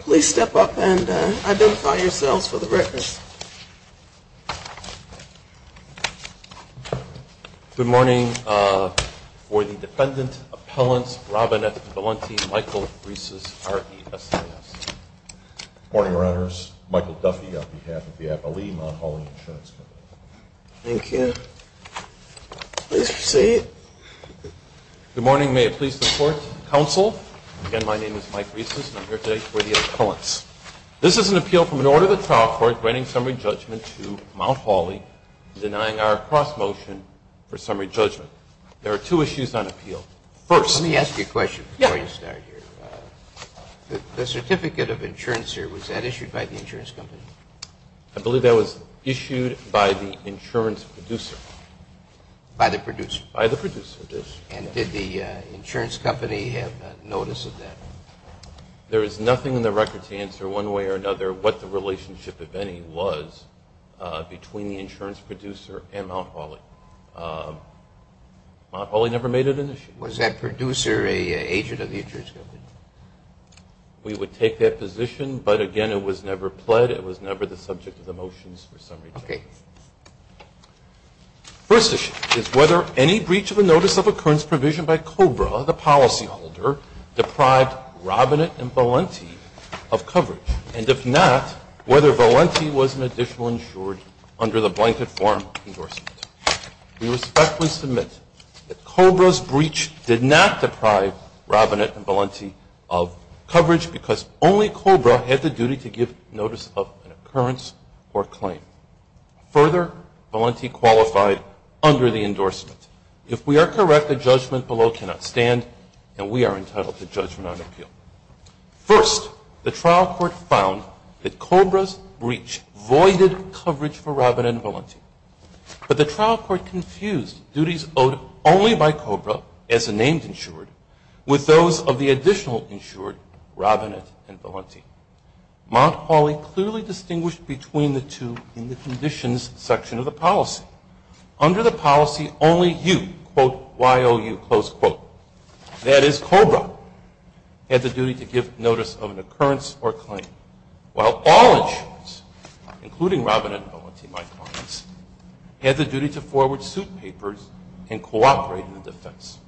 Please step up and identify yourselves for the record. Good morning. For the Defendant Appellants, Robinette Valenti, Michael Reeses, R-E-S-E-S. Good morning, Your Honors. Michael Duffy on behalf of the Abilene Mount Hawley Insurance Company. Thank you. Please proceed. Good morning. May it please the Court, Counsel. Again, my name is Mike Reeses and I'm here today for the Appellants. This is an appeal from an order of the trial court granting summary judgment to Mount Hawley, denying our cross-motion for summary judgment. There are two issues on appeal. First... Let me ask you a question before you start here. The certificate of insurance here, was that issued by the insurance company? I believe that was issued by the insurance producer. By the producer? By the producer, yes. And did the insurance company have notice of that? There is nothing in the record to answer one way or another what the relationship, if any, was between the insurance producer and Mount Hawley. Mount Hawley never made it an issue. Was that producer an agent of the insurance company? We would take that position, but again, it was never pled. It was never the subject of the motions for summary judgment. Okay. First issue is whether any breach of a notice of occurrence provision by COBRA, the policyholder, deprived Robinett and Valenti of coverage. And if not, whether Valenti was an additional insured under the blanket form endorsement. We respectfully submit that COBRA's breach did not deprive Robinett and Valenti of coverage because only COBRA had the duty to give notice of an occurrence or claim. Further, Valenti qualified under the endorsement. If we are correct, the judgment below cannot stand, and we are entitled to judgment on appeal. First, the trial court found that COBRA's breach voided coverage for Robinett and Valenti. But the trial court confused duties owed only by COBRA as a named insured with those of the additional insured, Robinett and Valenti. Mount Holly clearly distinguished between the two in the conditions section of the policy. Under the policy, only you, quote, Y-O-U, close quote, that is COBRA, had the duty to give notice of an occurrence or claim. While all insurers, including Robinett and Valenti, my colleagues, had the duty to forward suit papers and cooperate in the defense.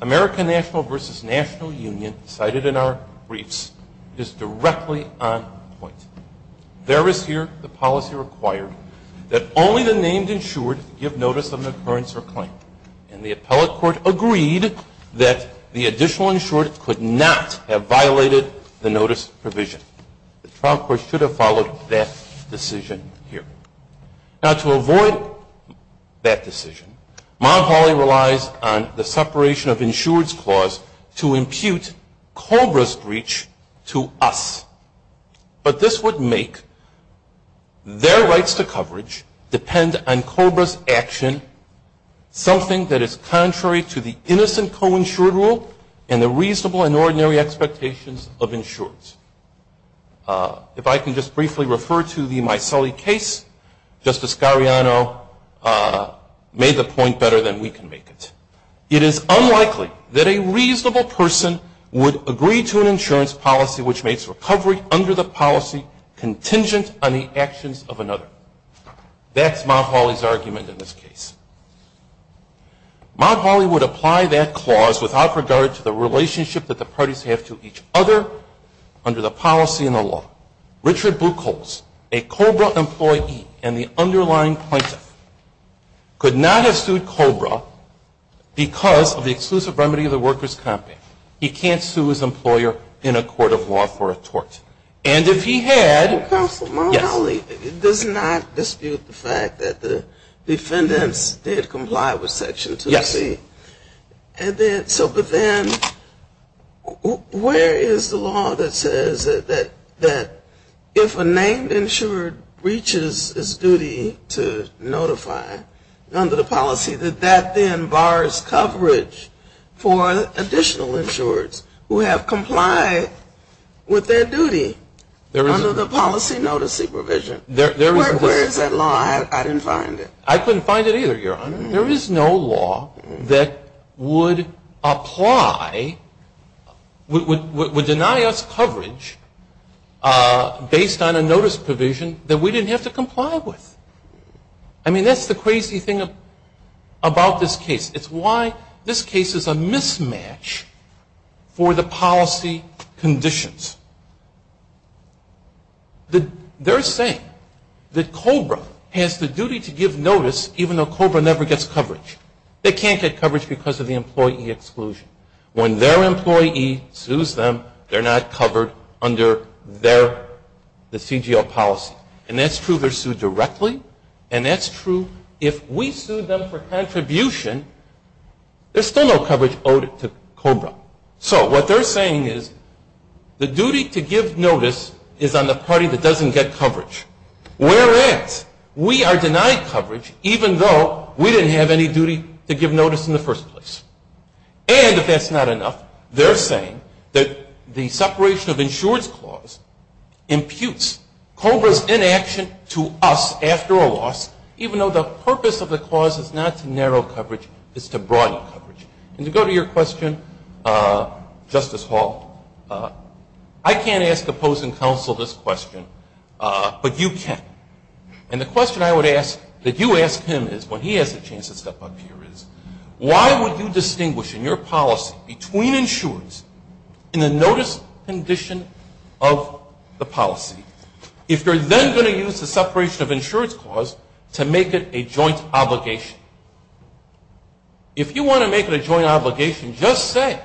American National versus National Union, cited in our briefs, is directly on point. There is here the policy required that only the named insured give notice of an occurrence or claim. And the appellate court agreed that the additional insured could not have violated the notice provision. The trial court should have followed that decision here. Now to avoid that decision, Mount Holly relies on the separation of insureds clause to impute COBRA's breach to us. But this would make their rights to coverage depend on COBRA's action, something that is contrary to the innocent co-insured rule and the reasonable and ordinary expectations of insureds. If I can just briefly refer to the Micelli case, Justice Gariano made the point better than we can make it. It is unlikely that a reasonable person would agree to an insurance policy which makes recovery under the policy contingent on the actions of another. That's Mount Holly's argument in this case. Mount Holly would apply that clause without regard to the relationship that the parties have to each other under the policy and the law. Richard Bluecoats, a COBRA employee and the underlying plaintiff, could not have sued COBRA because of the exclusive remedy of the workers' compact. He can't sue his employer in a court of law for a tort. And if he had... Counsel, Mount Holly does not dispute the fact that the defendants did comply with Section 2C. Yes. And then so but then where is the law that says that if a named insured reaches its duty to notify under the policy, that that then bars coverage for additional insureds who have complied with their duties. Under the policy notice supervision. Where is that law? I didn't find it. I couldn't find it either, Your Honor. There is no law that would apply, would deny us coverage based on a notice provision that we didn't have to comply with. I mean that's the crazy thing about this case. It's why this case is a mismatch for the policy conditions. They're saying that COBRA has the duty to give notice even though COBRA never gets coverage. They can't get coverage because of the employee exclusion. When their employee sues them, they're not covered under their, the CGL policy. And that's true. They're sued directly. And that's true. If we sued them for contribution, there's still no coverage owed to COBRA. So what they're saying is the duty to give notice is on the party that doesn't get coverage. Whereas, we are denied coverage even though we didn't have any duty to give notice in the first place. And if that's not enough, they're saying that the separation of insureds clause imputes COBRA's inaction to us after a loss, even though the purpose of the clause is not to narrow coverage, it's to broaden coverage. And to go to your question, Justice Hall, I can't ask opposing counsel this question, but you can. And the question I would ask that you ask him is when he has a chance to step up here is, why would you distinguish in your policy between insureds in the notice condition of the policy if you're then going to use the separation of insureds clause to make it a joint obligation? If you want to make it a joint obligation, just say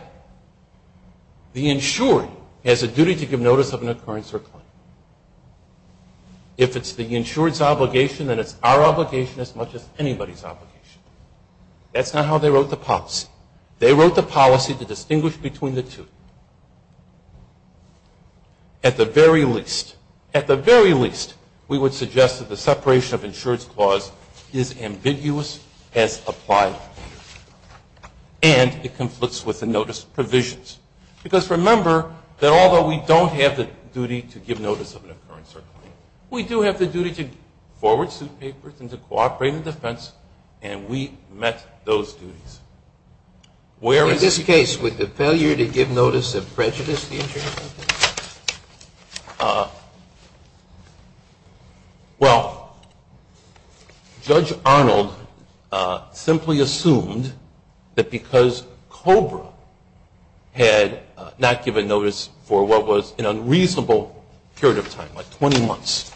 the insured has a duty to give notice of an occurrence or claim. If it's the insured's obligation, then it's our obligation as much as anybody's obligation. That's not how they wrote the policy. They wrote the policy to distinguish between the two. At the very least, at the very least, we would suggest that the separation of insureds clause is ambiguous as applied. And it conflicts with the notice provisions. Because remember that although we don't have the duty to give notice of an occurrence or claim, we do have the duty to forward suit papers and to cooperate in defense, and we met those duties. In this case, would the failure to give notice of prejudice be insured? Well, Judge Arnold simply assumed that because COBRA had not given notice for what was an unreasonable period of time, like 20 months,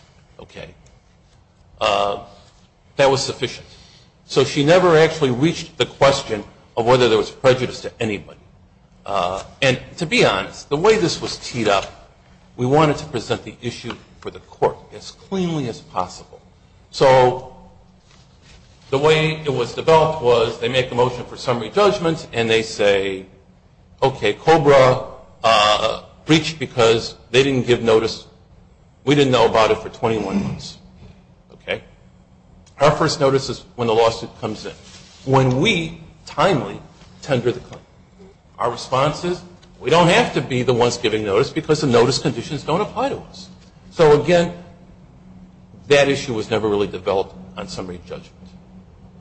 that was sufficient. So she never actually reached the question of whether there was prejudice to anybody. And to be honest, the way this was teed up, we wanted to present the issue for the court as cleanly as possible. So the way it was developed was they make a motion for summary judgment, and they say, okay, COBRA breached because they didn't give notice. We didn't know about it for 21 months. Okay? Our first notice is when the lawsuit comes in. When we timely tender the claim, our response is we don't have to be the ones giving notice because the notice conditions don't apply to us. So again, that issue was never really developed on summary judgment.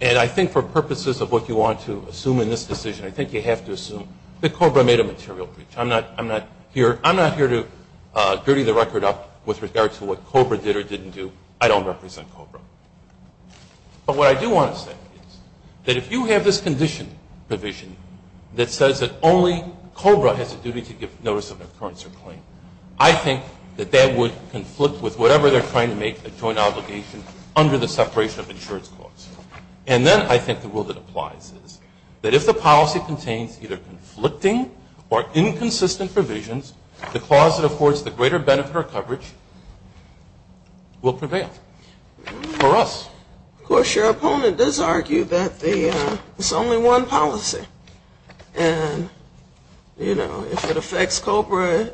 And I think for purposes of what you want to assume in this decision, I think you have to assume that COBRA made a material breach. I'm not here to dirty the record up with regard to what COBRA did or didn't do. I don't represent COBRA. But what I do want to say is that if you have this condition provision that says that only COBRA has a duty to give notice of an occurrence or claim, I think that that would conflict with whatever they're trying to make a joint obligation under the separation of insurance clause. And then I think the rule that applies is that if the policy contains either conflicting or inconsistent provisions, the clause that affords the greater benefit or coverage will prevail for us. Of course, your opponent does argue that it's only one policy. And, you know, if it affects COBRA,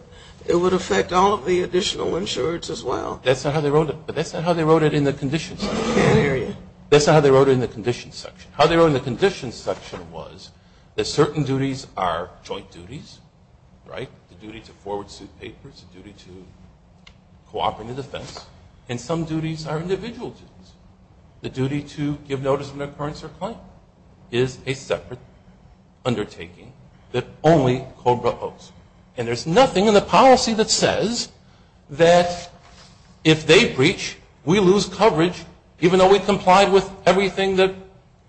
it would affect all of the additional insurers as well. That's not how they wrote it. But that's not how they wrote it in the conditions. Period. That's not how they wrote it in the conditions section. How they wrote it in the conditions section was that certain duties are joint duties, right? The duty to forward suit papers, the duty to cooperate in defense, and some duties are individual duties. The duty to give notice of an occurrence or claim is a separate undertaking that only COBRA holds. And there's nothing in the policy that says that if they breach, we lose coverage, even though we complied with everything that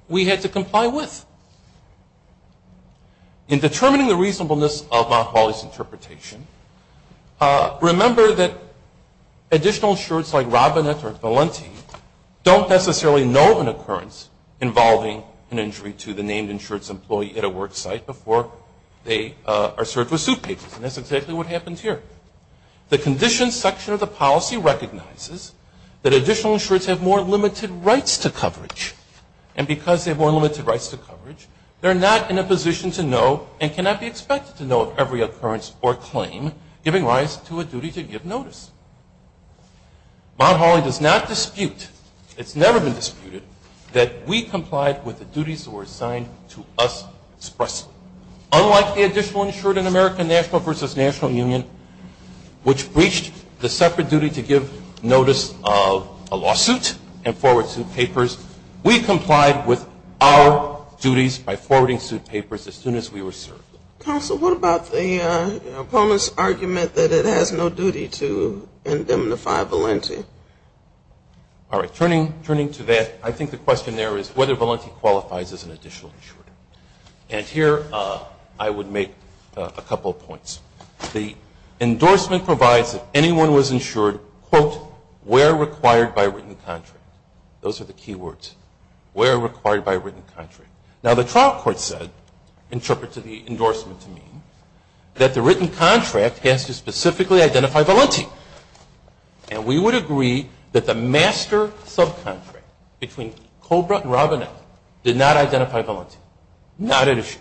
we had to comply with. In determining the reasonableness of Motwally's interpretation, remember that additional insurers like Robinette or Valenti don't necessarily know of an occurrence involving an injury to the named insurance employee at a work site before they are served with suit papers. And that's exactly what happens here. The conditions section of the policy recognizes that additional insurers have more limited rights to coverage. And because they have more limited rights to coverage, they're not in a position to know and cannot be expected to know of every occurrence or claim giving rise to a duty to give notice. Motwally does not dispute, it's never been disputed, that we complied with the duties that were assigned to us expressly. Unlike the additional insurer in American National versus National Union, which breached the separate duty to give notice of a lawsuit and forward suit papers, we complied with our duties by forwarding suit papers as soon as we were served. Counsel, what about the opponent's argument that it has no duty to indemnify Valenti? All right. Turning to that, I think the question there is whether Valenti qualifies as an additional insurer. And here I would make a couple of points. The endorsement provides that anyone was insured, quote, where required by written contract. Those are the key words. Where required by written contract. Now, the trial court said, interpreted the endorsement to mean, that the written contract has to specifically identify Valenti. And we would agree that the master subcontract between Cobra and Robinette did not identify Valenti. Not an issue.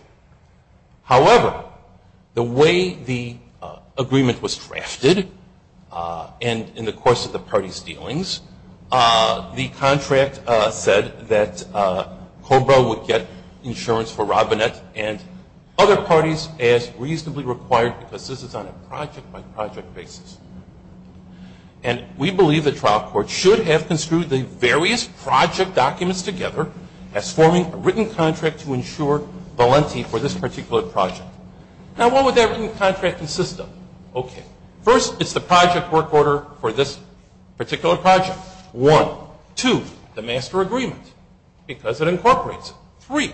However, the way the agreement was drafted and in the course of the party's dealings, the contract said that Cobra would get insurance for Robinette and other parties as reasonably required because this is on a project-by-project basis. And we believe the trial court should have construed the various project documents together as forming a written contract to insure Valenti for this particular project. Now, what would that written contract consist of? Okay. First, it's the project work order for this particular project. One. Two, the master agreement because it incorporates it. Three,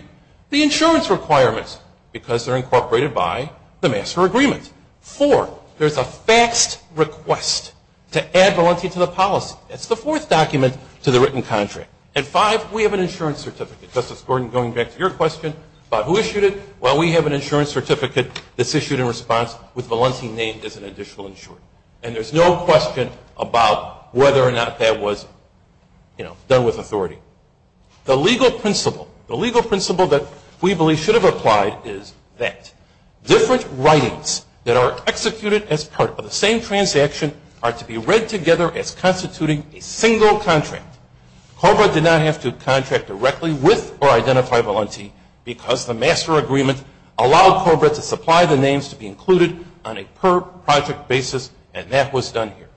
the insurance requirements because they're incorporated by the master agreement. Four, there's a faxed request to add Valenti to the policy. That's the fourth document to the written contract. And five, we have an insurance certificate. Justice Gordon, going back to your question about who issued it, well, we have an insurance certificate that's issued in response with Valenti named as an additional insurer. And there's no question about whether or not that was, you know, done with authority. The legal principle, the legal principle that we believe should have applied is that different writings that are executed as part of the same transaction are to be read together as constituting a single contract. COBRA did not have to contract directly with or identify Valenti because the master agreement allowed COBRA to supply the names to be included on a per-project basis, and that was done here.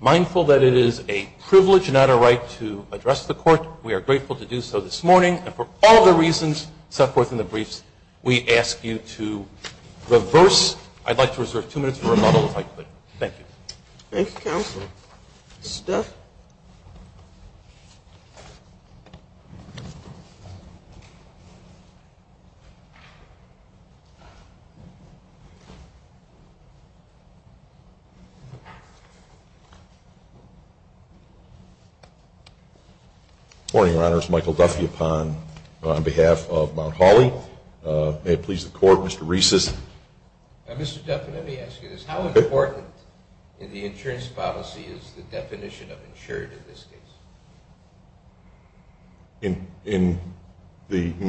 Mindful that it is a privilege, not a right, to address the Court. We are grateful to do so this morning, and for all the reasons set forth in the briefs, we ask you to reverse. I'd like to reserve two minutes for rebuttal, if I could. Thank you. Thank you, Counsel. Mr. Duff? Good morning, Your Honors. Michael Duffy upon behalf of Mount Holly. May it please the Court, Mr. Reeses. Mr. Duff, let me ask you this. How important in the insurance policy is the definition of insured in this case?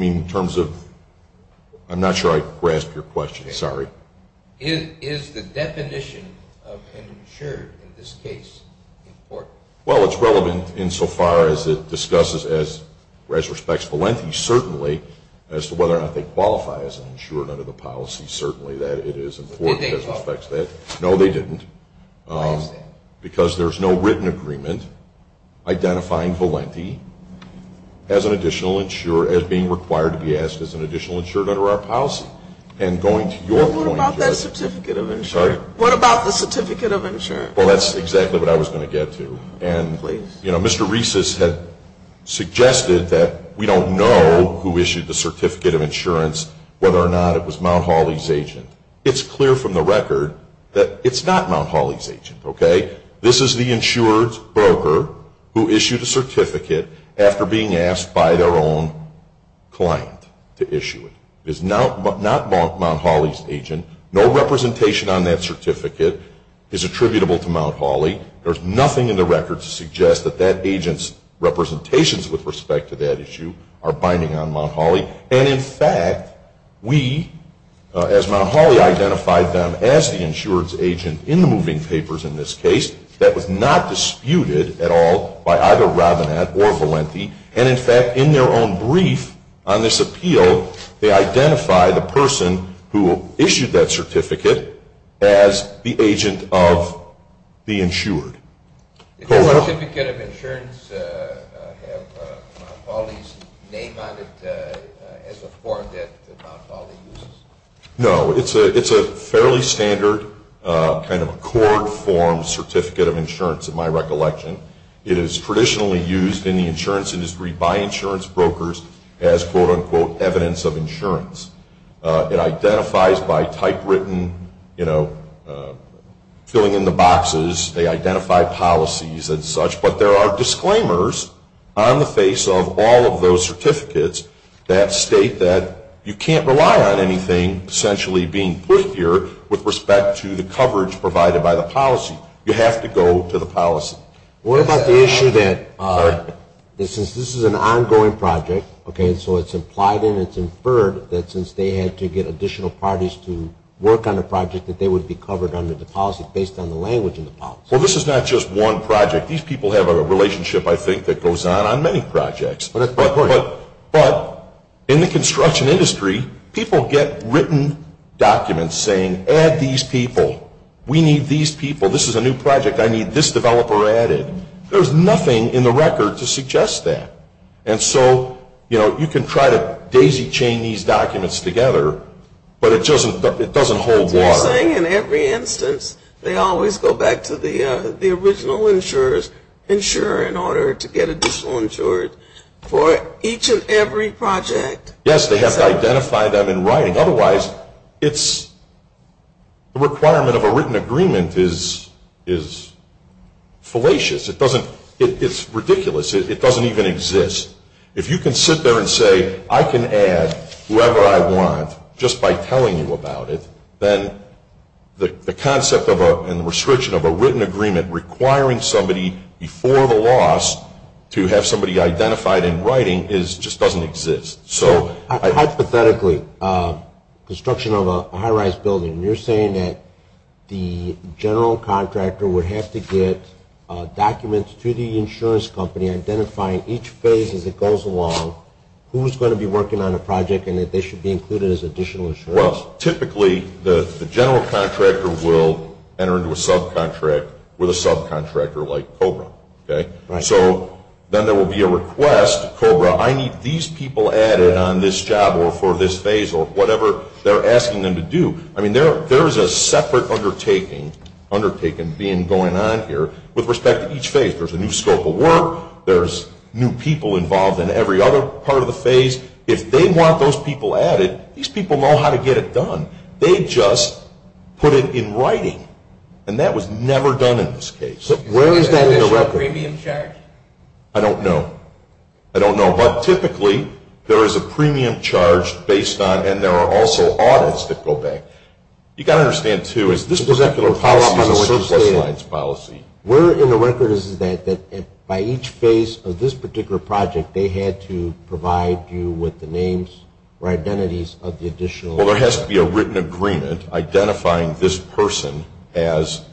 In terms of – I'm not sure I grasped your question. Sorry. Is the definition of insured in this case important? Well, it's relevant insofar as it discusses, as respects Valenti, certainly, as to whether or not they qualify as an insured under the policy. Certainly, that is important. They didn't? No, they didn't. Why is that? Because there's no written agreement identifying Valenti as an additional insured – as being required to be asked as an additional insured under our policy. And going to your point – Well, what about that certificate of insured? Sorry? What about the certificate of insured? Well, that's exactly what I was going to get to. Please. You know, Mr. Reeses had suggested that we don't know who issued the certificate of insurance, whether or not it was Mount Holly's agent. It's clear from the record that it's not Mount Holly's agent. Okay? This is the insurance broker who issued a certificate after being asked by their own client to issue it. It is not Mount Holly's agent. No representation on that certificate is attributable to Mount Holly. There's nothing in the record to suggest that that agent's representations with respect to that issue are binding on Mount Holly. And, in fact, we, as Mount Holly, identified them as the insurance agent in the moving papers in this case that was not disputed at all by either Robinette or Valenti. And, in fact, in their own brief on this appeal, they identify the person who issued that certificate as the agent of the insured. Does the certificate of insurance have Mount Holly's name on it as a form that Mount Holly uses? No. It's a fairly standard kind of accord form certificate of insurance, in my recollection. It is traditionally used in the insurance industry by insurance brokers as, quote, unquote, evidence of insurance. It identifies by typewritten, you know, filling in the boxes. They identify policies and such. But there are disclaimers on the face of all of those certificates that state that you can't rely on anything essentially being put here with respect to the coverage provided by the policy. You have to go to the policy. What about the issue that since this is an ongoing project, okay, so it's implied and it's inferred that since they had to get additional parties to work on the project that they would be covered under the policy based on the language in the policy? Well, this is not just one project. These people have a relationship, I think, that goes on on many projects. But in the construction industry, people get written documents saying, add these people. We need these people. This is a new project. I need this developer added. There's nothing in the record to suggest that. And so, you know, you can try to daisy chain these documents together, but it doesn't hold water. Are you saying in every instance they always go back to the original insurers, insure in order to get additional insured for each and every project? Yes, they have to identify them in writing. Otherwise, the requirement of a written agreement is fallacious. It's ridiculous. It doesn't even exist. If you can sit there and say, I can add whoever I want just by telling you about it, then the concept and the restriction of a written agreement requiring somebody before the loss to have somebody identified in writing just doesn't exist. Hypothetically, construction of a high-rise building, and you're saying that the general contractor would have to get documents to the insurance company identifying each phase as it goes along who's going to be working on a project and that they should be included as additional insurers. Well, typically, the general contractor will enter into a subcontract with a subcontractor like COBRA. Right. So then there will be a request. COBRA, I need these people added on this job or for this phase or whatever they're asking them to do. I mean, there is a separate undertaking being going on here with respect to each phase. There's a new scope of work. There's new people involved in every other part of the phase. If they want those people added, these people know how to get it done. They just put it in writing, and that was never done in this case. Where is that in the record? Is there an additional premium charge? I don't know. I don't know. But typically, there is a premium charge based on, and there are also audits that go back. You've got to understand, too, is this particular policy is a surplus lines policy. Where in the record is that by each phase of this particular project, they had to provide you with the names or identities of the additional? Well, there has to be a written agreement identifying this person as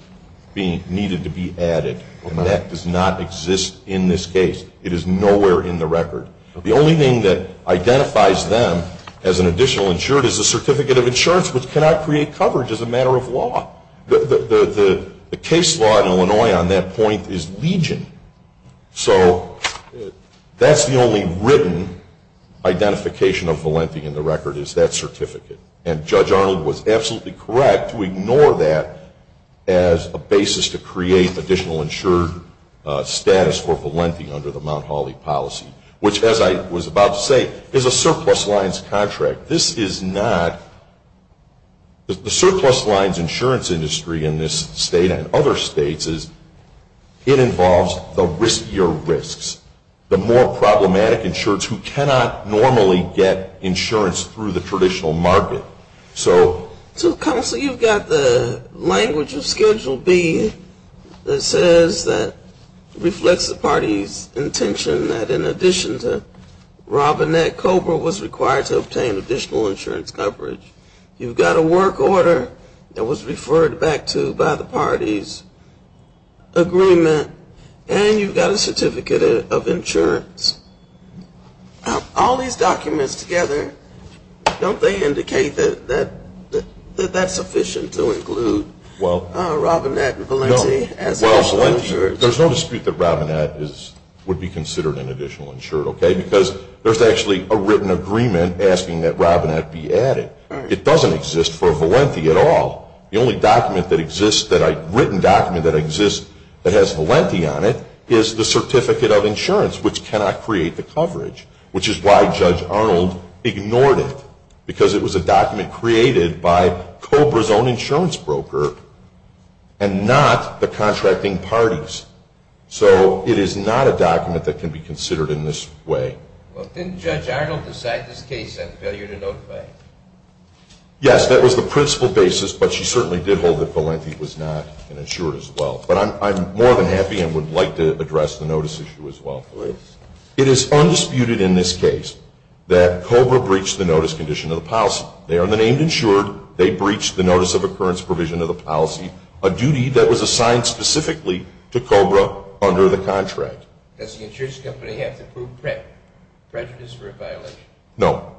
needed to be added, and that does not exist in this case. It is nowhere in the record. The only thing that identifies them as an additional insured is a certificate of insurance, which cannot create coverage as a matter of law. The case law in Illinois on that point is legion. So that's the only written identification of Valenti in the record is that certificate, and Judge Arnold was absolutely correct to ignore that as a basis to create additional insured status for Valenti under the Mount Holly policy, which, as I was about to say, is a surplus lines contract. This is not the surplus lines insurance industry in this state and other states. It involves the riskier risks, the more problematic insureds because you cannot normally get insurance through the traditional market. So, Counsel, you've got the language of Schedule B that says that reflects the party's intention that in addition to Robinette, Cobra was required to obtain additional insurance coverage. You've got a work order that was referred back to by the party's agreement, and you've got a certificate of insurance. All these documents together, don't they indicate that that's sufficient to include Robinette and Valenti as additional insured? There's no dispute that Robinette would be considered an additional insured, okay, because there's actually a written agreement asking that Robinette be added. It doesn't exist for Valenti at all. The only written document that exists that has Valenti on it is the certificate of insurance, which cannot create the coverage, which is why Judge Arnold ignored it because it was a document created by Cobra's own insurance broker and not the contracting party's. So it is not a document that can be considered in this way. Well, didn't Judge Arnold decide this case had failure to notify? Yes, that was the principal basis, but she certainly did hold that Valenti was not an insured as well. But I'm more than happy and would like to address the notice issue as well. It is undisputed in this case that Cobra breached the notice condition of the policy. They are the named insured. They breached the notice of occurrence provision of the policy, a duty that was assigned specifically to Cobra under the contract. Does the insurance company have to prove prejudice for a violation? No.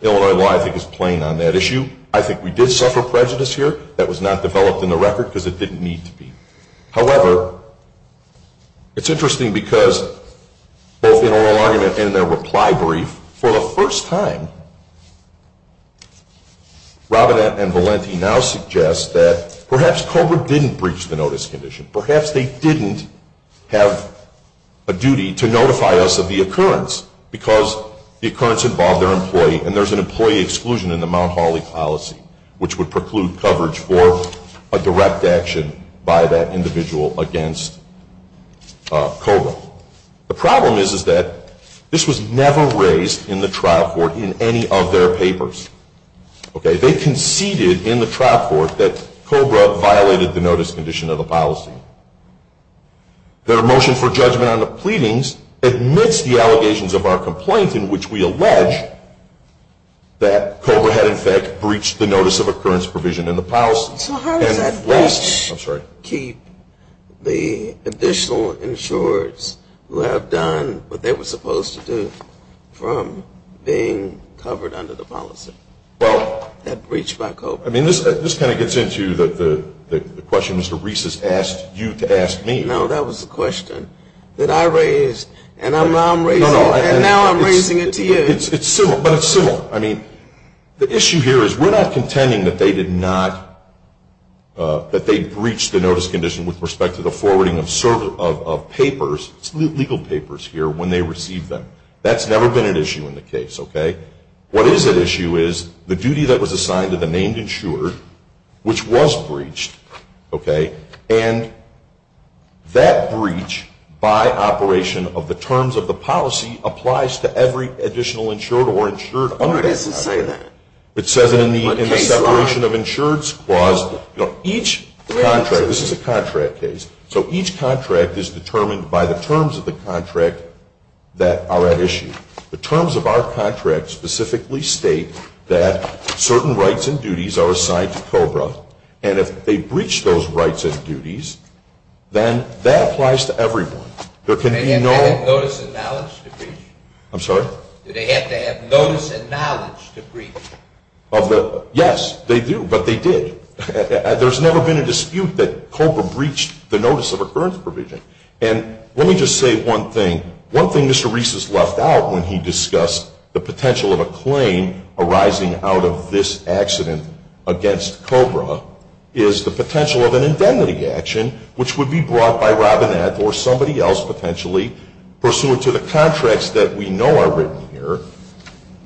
Illinois law, I think, is plain on that issue. I think we did suffer prejudice here. That was not developed in the record because it didn't need to be. However, it's interesting because both in oral argument and in their reply brief, for the first time, Robinette and Valenti now suggest that perhaps Cobra didn't breach the notice condition. Perhaps they didn't have a duty to notify us of the occurrence because the occurrence involved their employee, and there's an employee exclusion in the Mount Holly policy, which would preclude coverage for a direct action by that individual against Cobra. The problem is that this was never raised in the trial court in any of their papers. They conceded in the trial court that Cobra violated the notice condition of the policy. Their motion for judgment on the pleadings admits the allegations of our complaint in which we allege that Cobra had, in fact, breached the notice of occurrence provision in the policy. So how does that breach keep the additional insurers who have done what they were supposed to do from being covered under the policy that breached by Cobra? I mean, this kind of gets into the question Mr. Reese has asked you to ask me. No, that was the question that I raised, and now I'm raising it to you. It's similar, but it's similar. I mean, the issue here is we're not contending that they did not, that they breached the notice condition with respect to the forwarding of papers, legal papers here, when they received them. That's never been an issue in the case, okay? What is at issue is the duty that was assigned to the named insured, which was breached, okay, and that breach by operation of the terms of the policy applies to every additional insured or insured under that policy. It doesn't say that. It says it in the separation of insureds clause. Each contract, this is a contract case, so each contract is determined by the terms of the contract that are at issue. The terms of our contract specifically state that certain rights and duties are assigned to COBRA, and if they breach those rights and duties, then that applies to everyone. There can be no – Do they have to have notice and knowledge to breach? I'm sorry? Do they have to have notice and knowledge to breach? Yes, they do, but they did. There's never been a dispute that COBRA breached the notice of occurrence provision, and let me just say one thing. One thing Mr. Reese has left out when he discussed the potential of a claim arising out of this accident against COBRA is the potential of an indemnity action, which would be brought by Robinette or somebody else potentially, pursuant to the contracts that we know are written here,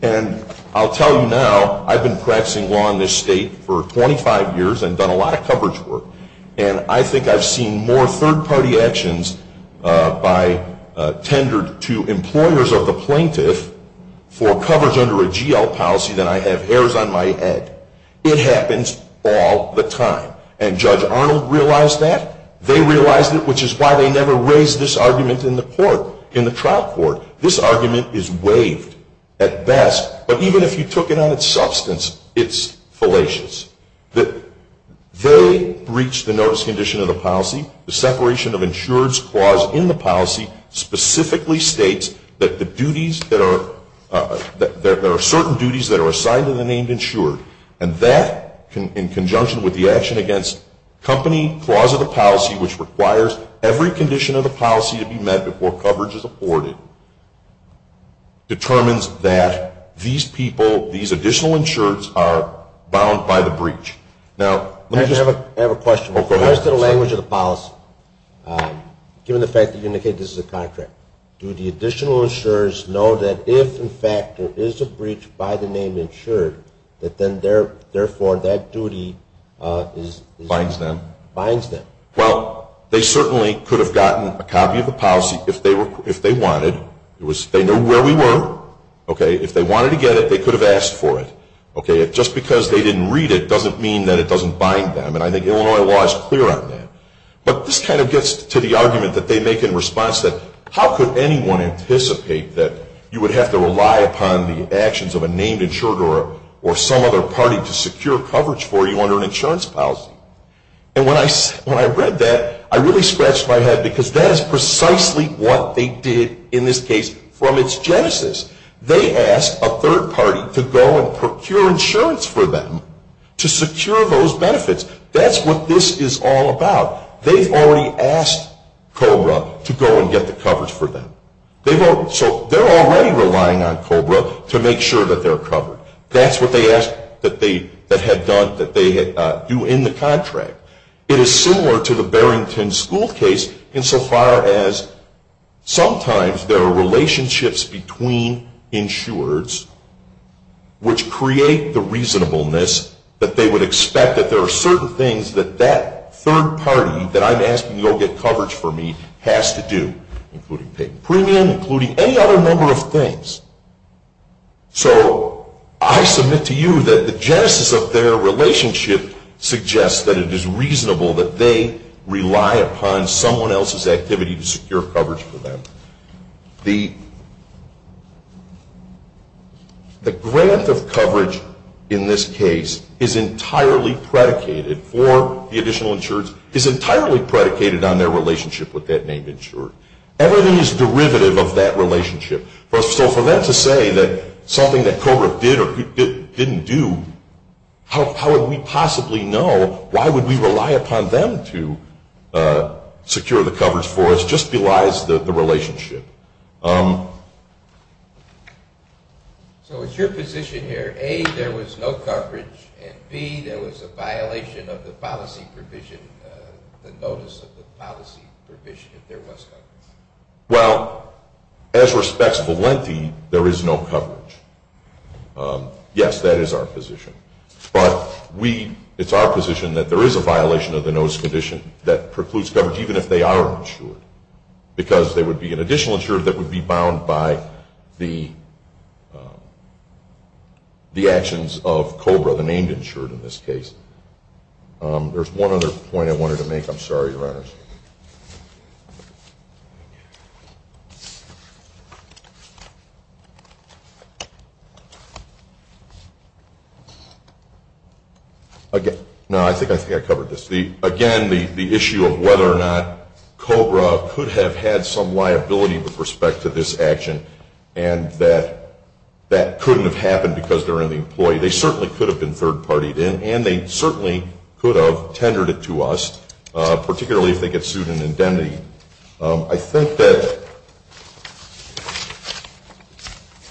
and I'll tell you now, I've been practicing law in this state for 25 years and done a lot of coverage work, and I think I've seen more third-party actions tendered to employers of the plaintiff for coverage under a GL policy than I have hairs on my head. It happens all the time, and Judge Arnold realized that. They realized it, which is why they never raised this argument in the court, in the trial court. This argument is waived at best, but even if you took it on its substance, it's fallacious. They breached the notice condition of the policy. The separation of insureds clause in the policy specifically states that there are certain duties that are assigned to the named insured, and that, in conjunction with the action against company clause of the policy, which requires every condition of the policy to be met before coverage is afforded, determines that these people, these additional insureds, are bound by the breach. Now, let me just... I have a question. Oh, go ahead. What is the language of the policy, given the fact that you indicated this is a contract? Do the additional insurers know that if, in fact, there is a breach by the name insured, that then, therefore, that duty is... Binds them. Binds them. Well, they certainly could have gotten a copy of the policy if they wanted. They knew where we were. If they wanted to get it, they could have asked for it. Just because they didn't read it doesn't mean that it doesn't bind them, and I think Illinois law is clear on that. But this kind of gets to the argument that they make in response, that how could anyone anticipate that you would have to rely upon the actions of a named insured or some other party to secure coverage for you under an insurance policy? And when I read that, I really scratched my head because that is precisely what they did in this case from its genesis. They asked a third party to go and procure insurance for them to secure those benefits. That's what this is all about. They've already asked COBRA to go and get the coverage for them. So they're already relying on COBRA to make sure that they're covered. That's what they asked that they had done, that they do in the contract. It is similar to the Barrington School case insofar as sometimes there are relationships between insureds which create the reasonableness that they would expect that there are certain things that that third party that I'm asking to go get coverage for me has to do, including paying premium, including any other number of things. So I submit to you that the genesis of their relationship suggests that it is reasonable that they rely upon someone else's activity to secure coverage for them. The grant of coverage in this case is entirely predicated for the additional insureds, is entirely predicated on their relationship with that named insured. Everything is derivative of that relationship. So for them to say that something that COBRA did or didn't do, how would we possibly know, why would we rely upon them to secure the coverage for us, just belies the relationship. So it's your position here, A, there was no coverage, and B, there was a violation of the policy provision, the notice of the policy provision that there was coverage. Well, as respects of Valenti, there is no coverage. Yes, that is our position. But we, it's our position that there is a violation of the notice condition that precludes coverage, even if they are insured, because there would be an additional insured that would be bound by the actions of COBRA, the named insured in this case. There's one other point I wanted to make. I'm sorry, Your Honors. Again, no, I think I covered this. Again, the issue of whether or not COBRA could have had some liability with respect to this action, and that that couldn't have happened because they're an employee. They certainly could have been third-partied, and they certainly could have tendered it to us, particularly if they get sued in indemnity. I think that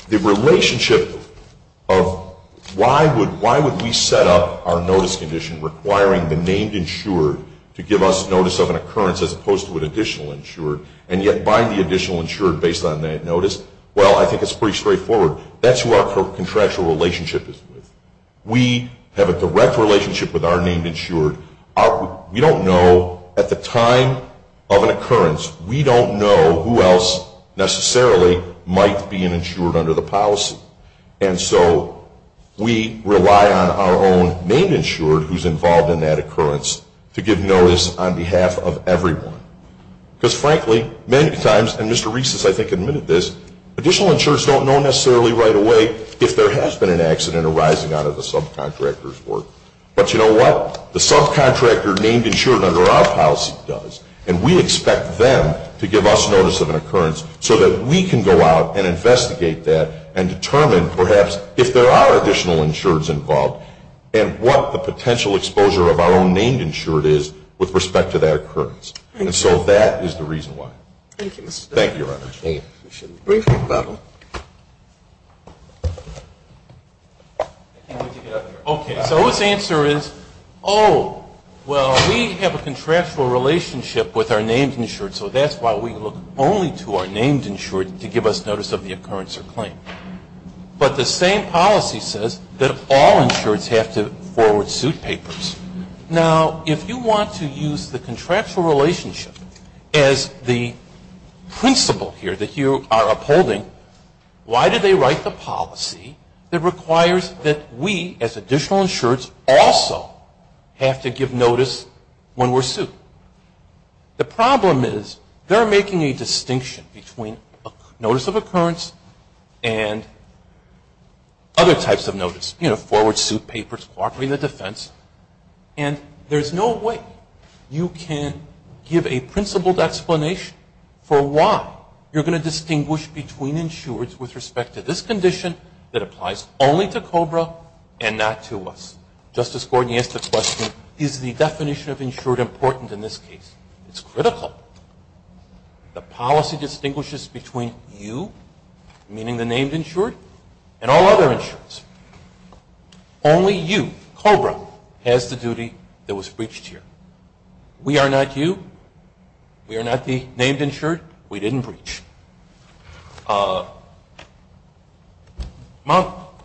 the relationship of why would we set up our notice condition requiring the named insured to give us notice of an occurrence as opposed to an additional insured, and yet bind the additional insured based on that notice? Well, I think it's pretty straightforward. That's who our contractual relationship is with. We have a direct relationship with our named insured. We don't know, at the time of an occurrence, we don't know who else necessarily might be an insured under the policy. And so we rely on our own named insured who's involved in that occurrence to give notice on behalf of everyone. Because, frankly, many times, and Mr. Reiss has, I think, admitted this, additional insureds don't know necessarily right away if there has been an accident arising out of the subcontractor's work. But you know what? The subcontractor named insured under our policy does, and we expect them to give us notice of an occurrence so that we can go out and investigate that and determine, perhaps, if there are additional insureds involved and what the potential exposure of our own named insured is with respect to that occurrence. And so that is the reason why. Thank you. Thank you, Your Honor. Thank you. We should be briefing about them. Okay. So his answer is, oh, well, we have a contractual relationship with our named insured, so that's why we look only to our named insured to give us notice of the occurrence or claim. But the same policy says that all insureds have to forward suit papers. Now, if you want to use the contractual relationship as the principle here that you are upholding, why do they write the policy that requires that we, as additional insureds, also have to give notice when we're sued? The problem is they're making a distinction between notice of occurrence and other types of notice, you know, forward suit papers, cooperating the defense, and there's no way you can give a principled explanation for why you're going to distinguish between insureds with respect to this condition that applies only to COBRA and not to us. Justice Gordon, you asked the question, is the definition of insured important in this case? It's critical. The policy distinguishes between you, meaning the named insured, and all other insureds. Only you, COBRA, has the duty that was breached here. We are not you. We are not the named insured. We didn't breach. Mount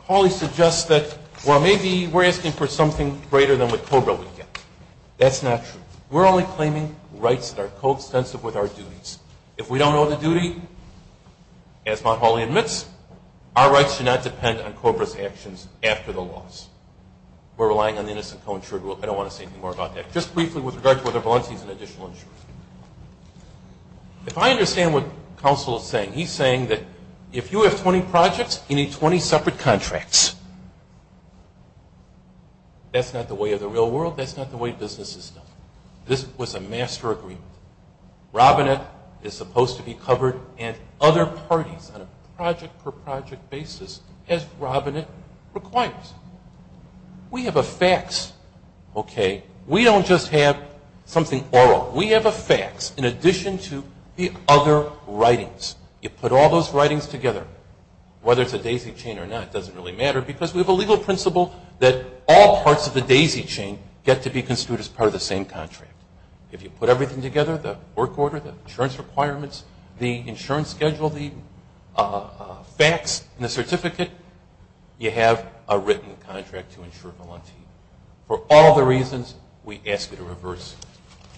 Hawley suggests that, well, maybe we're asking for something greater than what COBRA would get. That's not true. We're only claiming rights that are co-extensive with our duties. If we don't know the duty, as Mount Hawley admits, our rights do not depend on COBRA's actions after the loss. We're relying on the innocent co-insured rule. I don't want to say any more about that. Just briefly with regard to whether Valencia is an additional insured. If I understand what counsel is saying, he's saying that if you have 20 projects, you need 20 separate contracts. That's not the way of the real world. That's not the way business is done. This was a master agreement. Robinette is supposed to be covered, and other parties on a project-per-project basis, as Robinette requires. We have a fax, okay? We don't just have something oral. We have a fax in addition to the other writings. You put all those writings together, whether it's a daisy chain or not, it doesn't really matter because we have a legal principle that all parts of the daisy chain get to be construed as part of the same contract. If you put everything together, the work order, the insurance requirements, the insurance schedule, the fax, and the certificate, you have a written contract to insure Valencia. For all the reasons, we ask you to reverse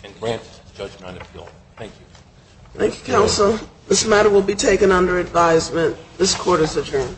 and grant judgment on appeal. Thank you. Thank you, counsel. This matter will be taken under advisement. This court is adjourned.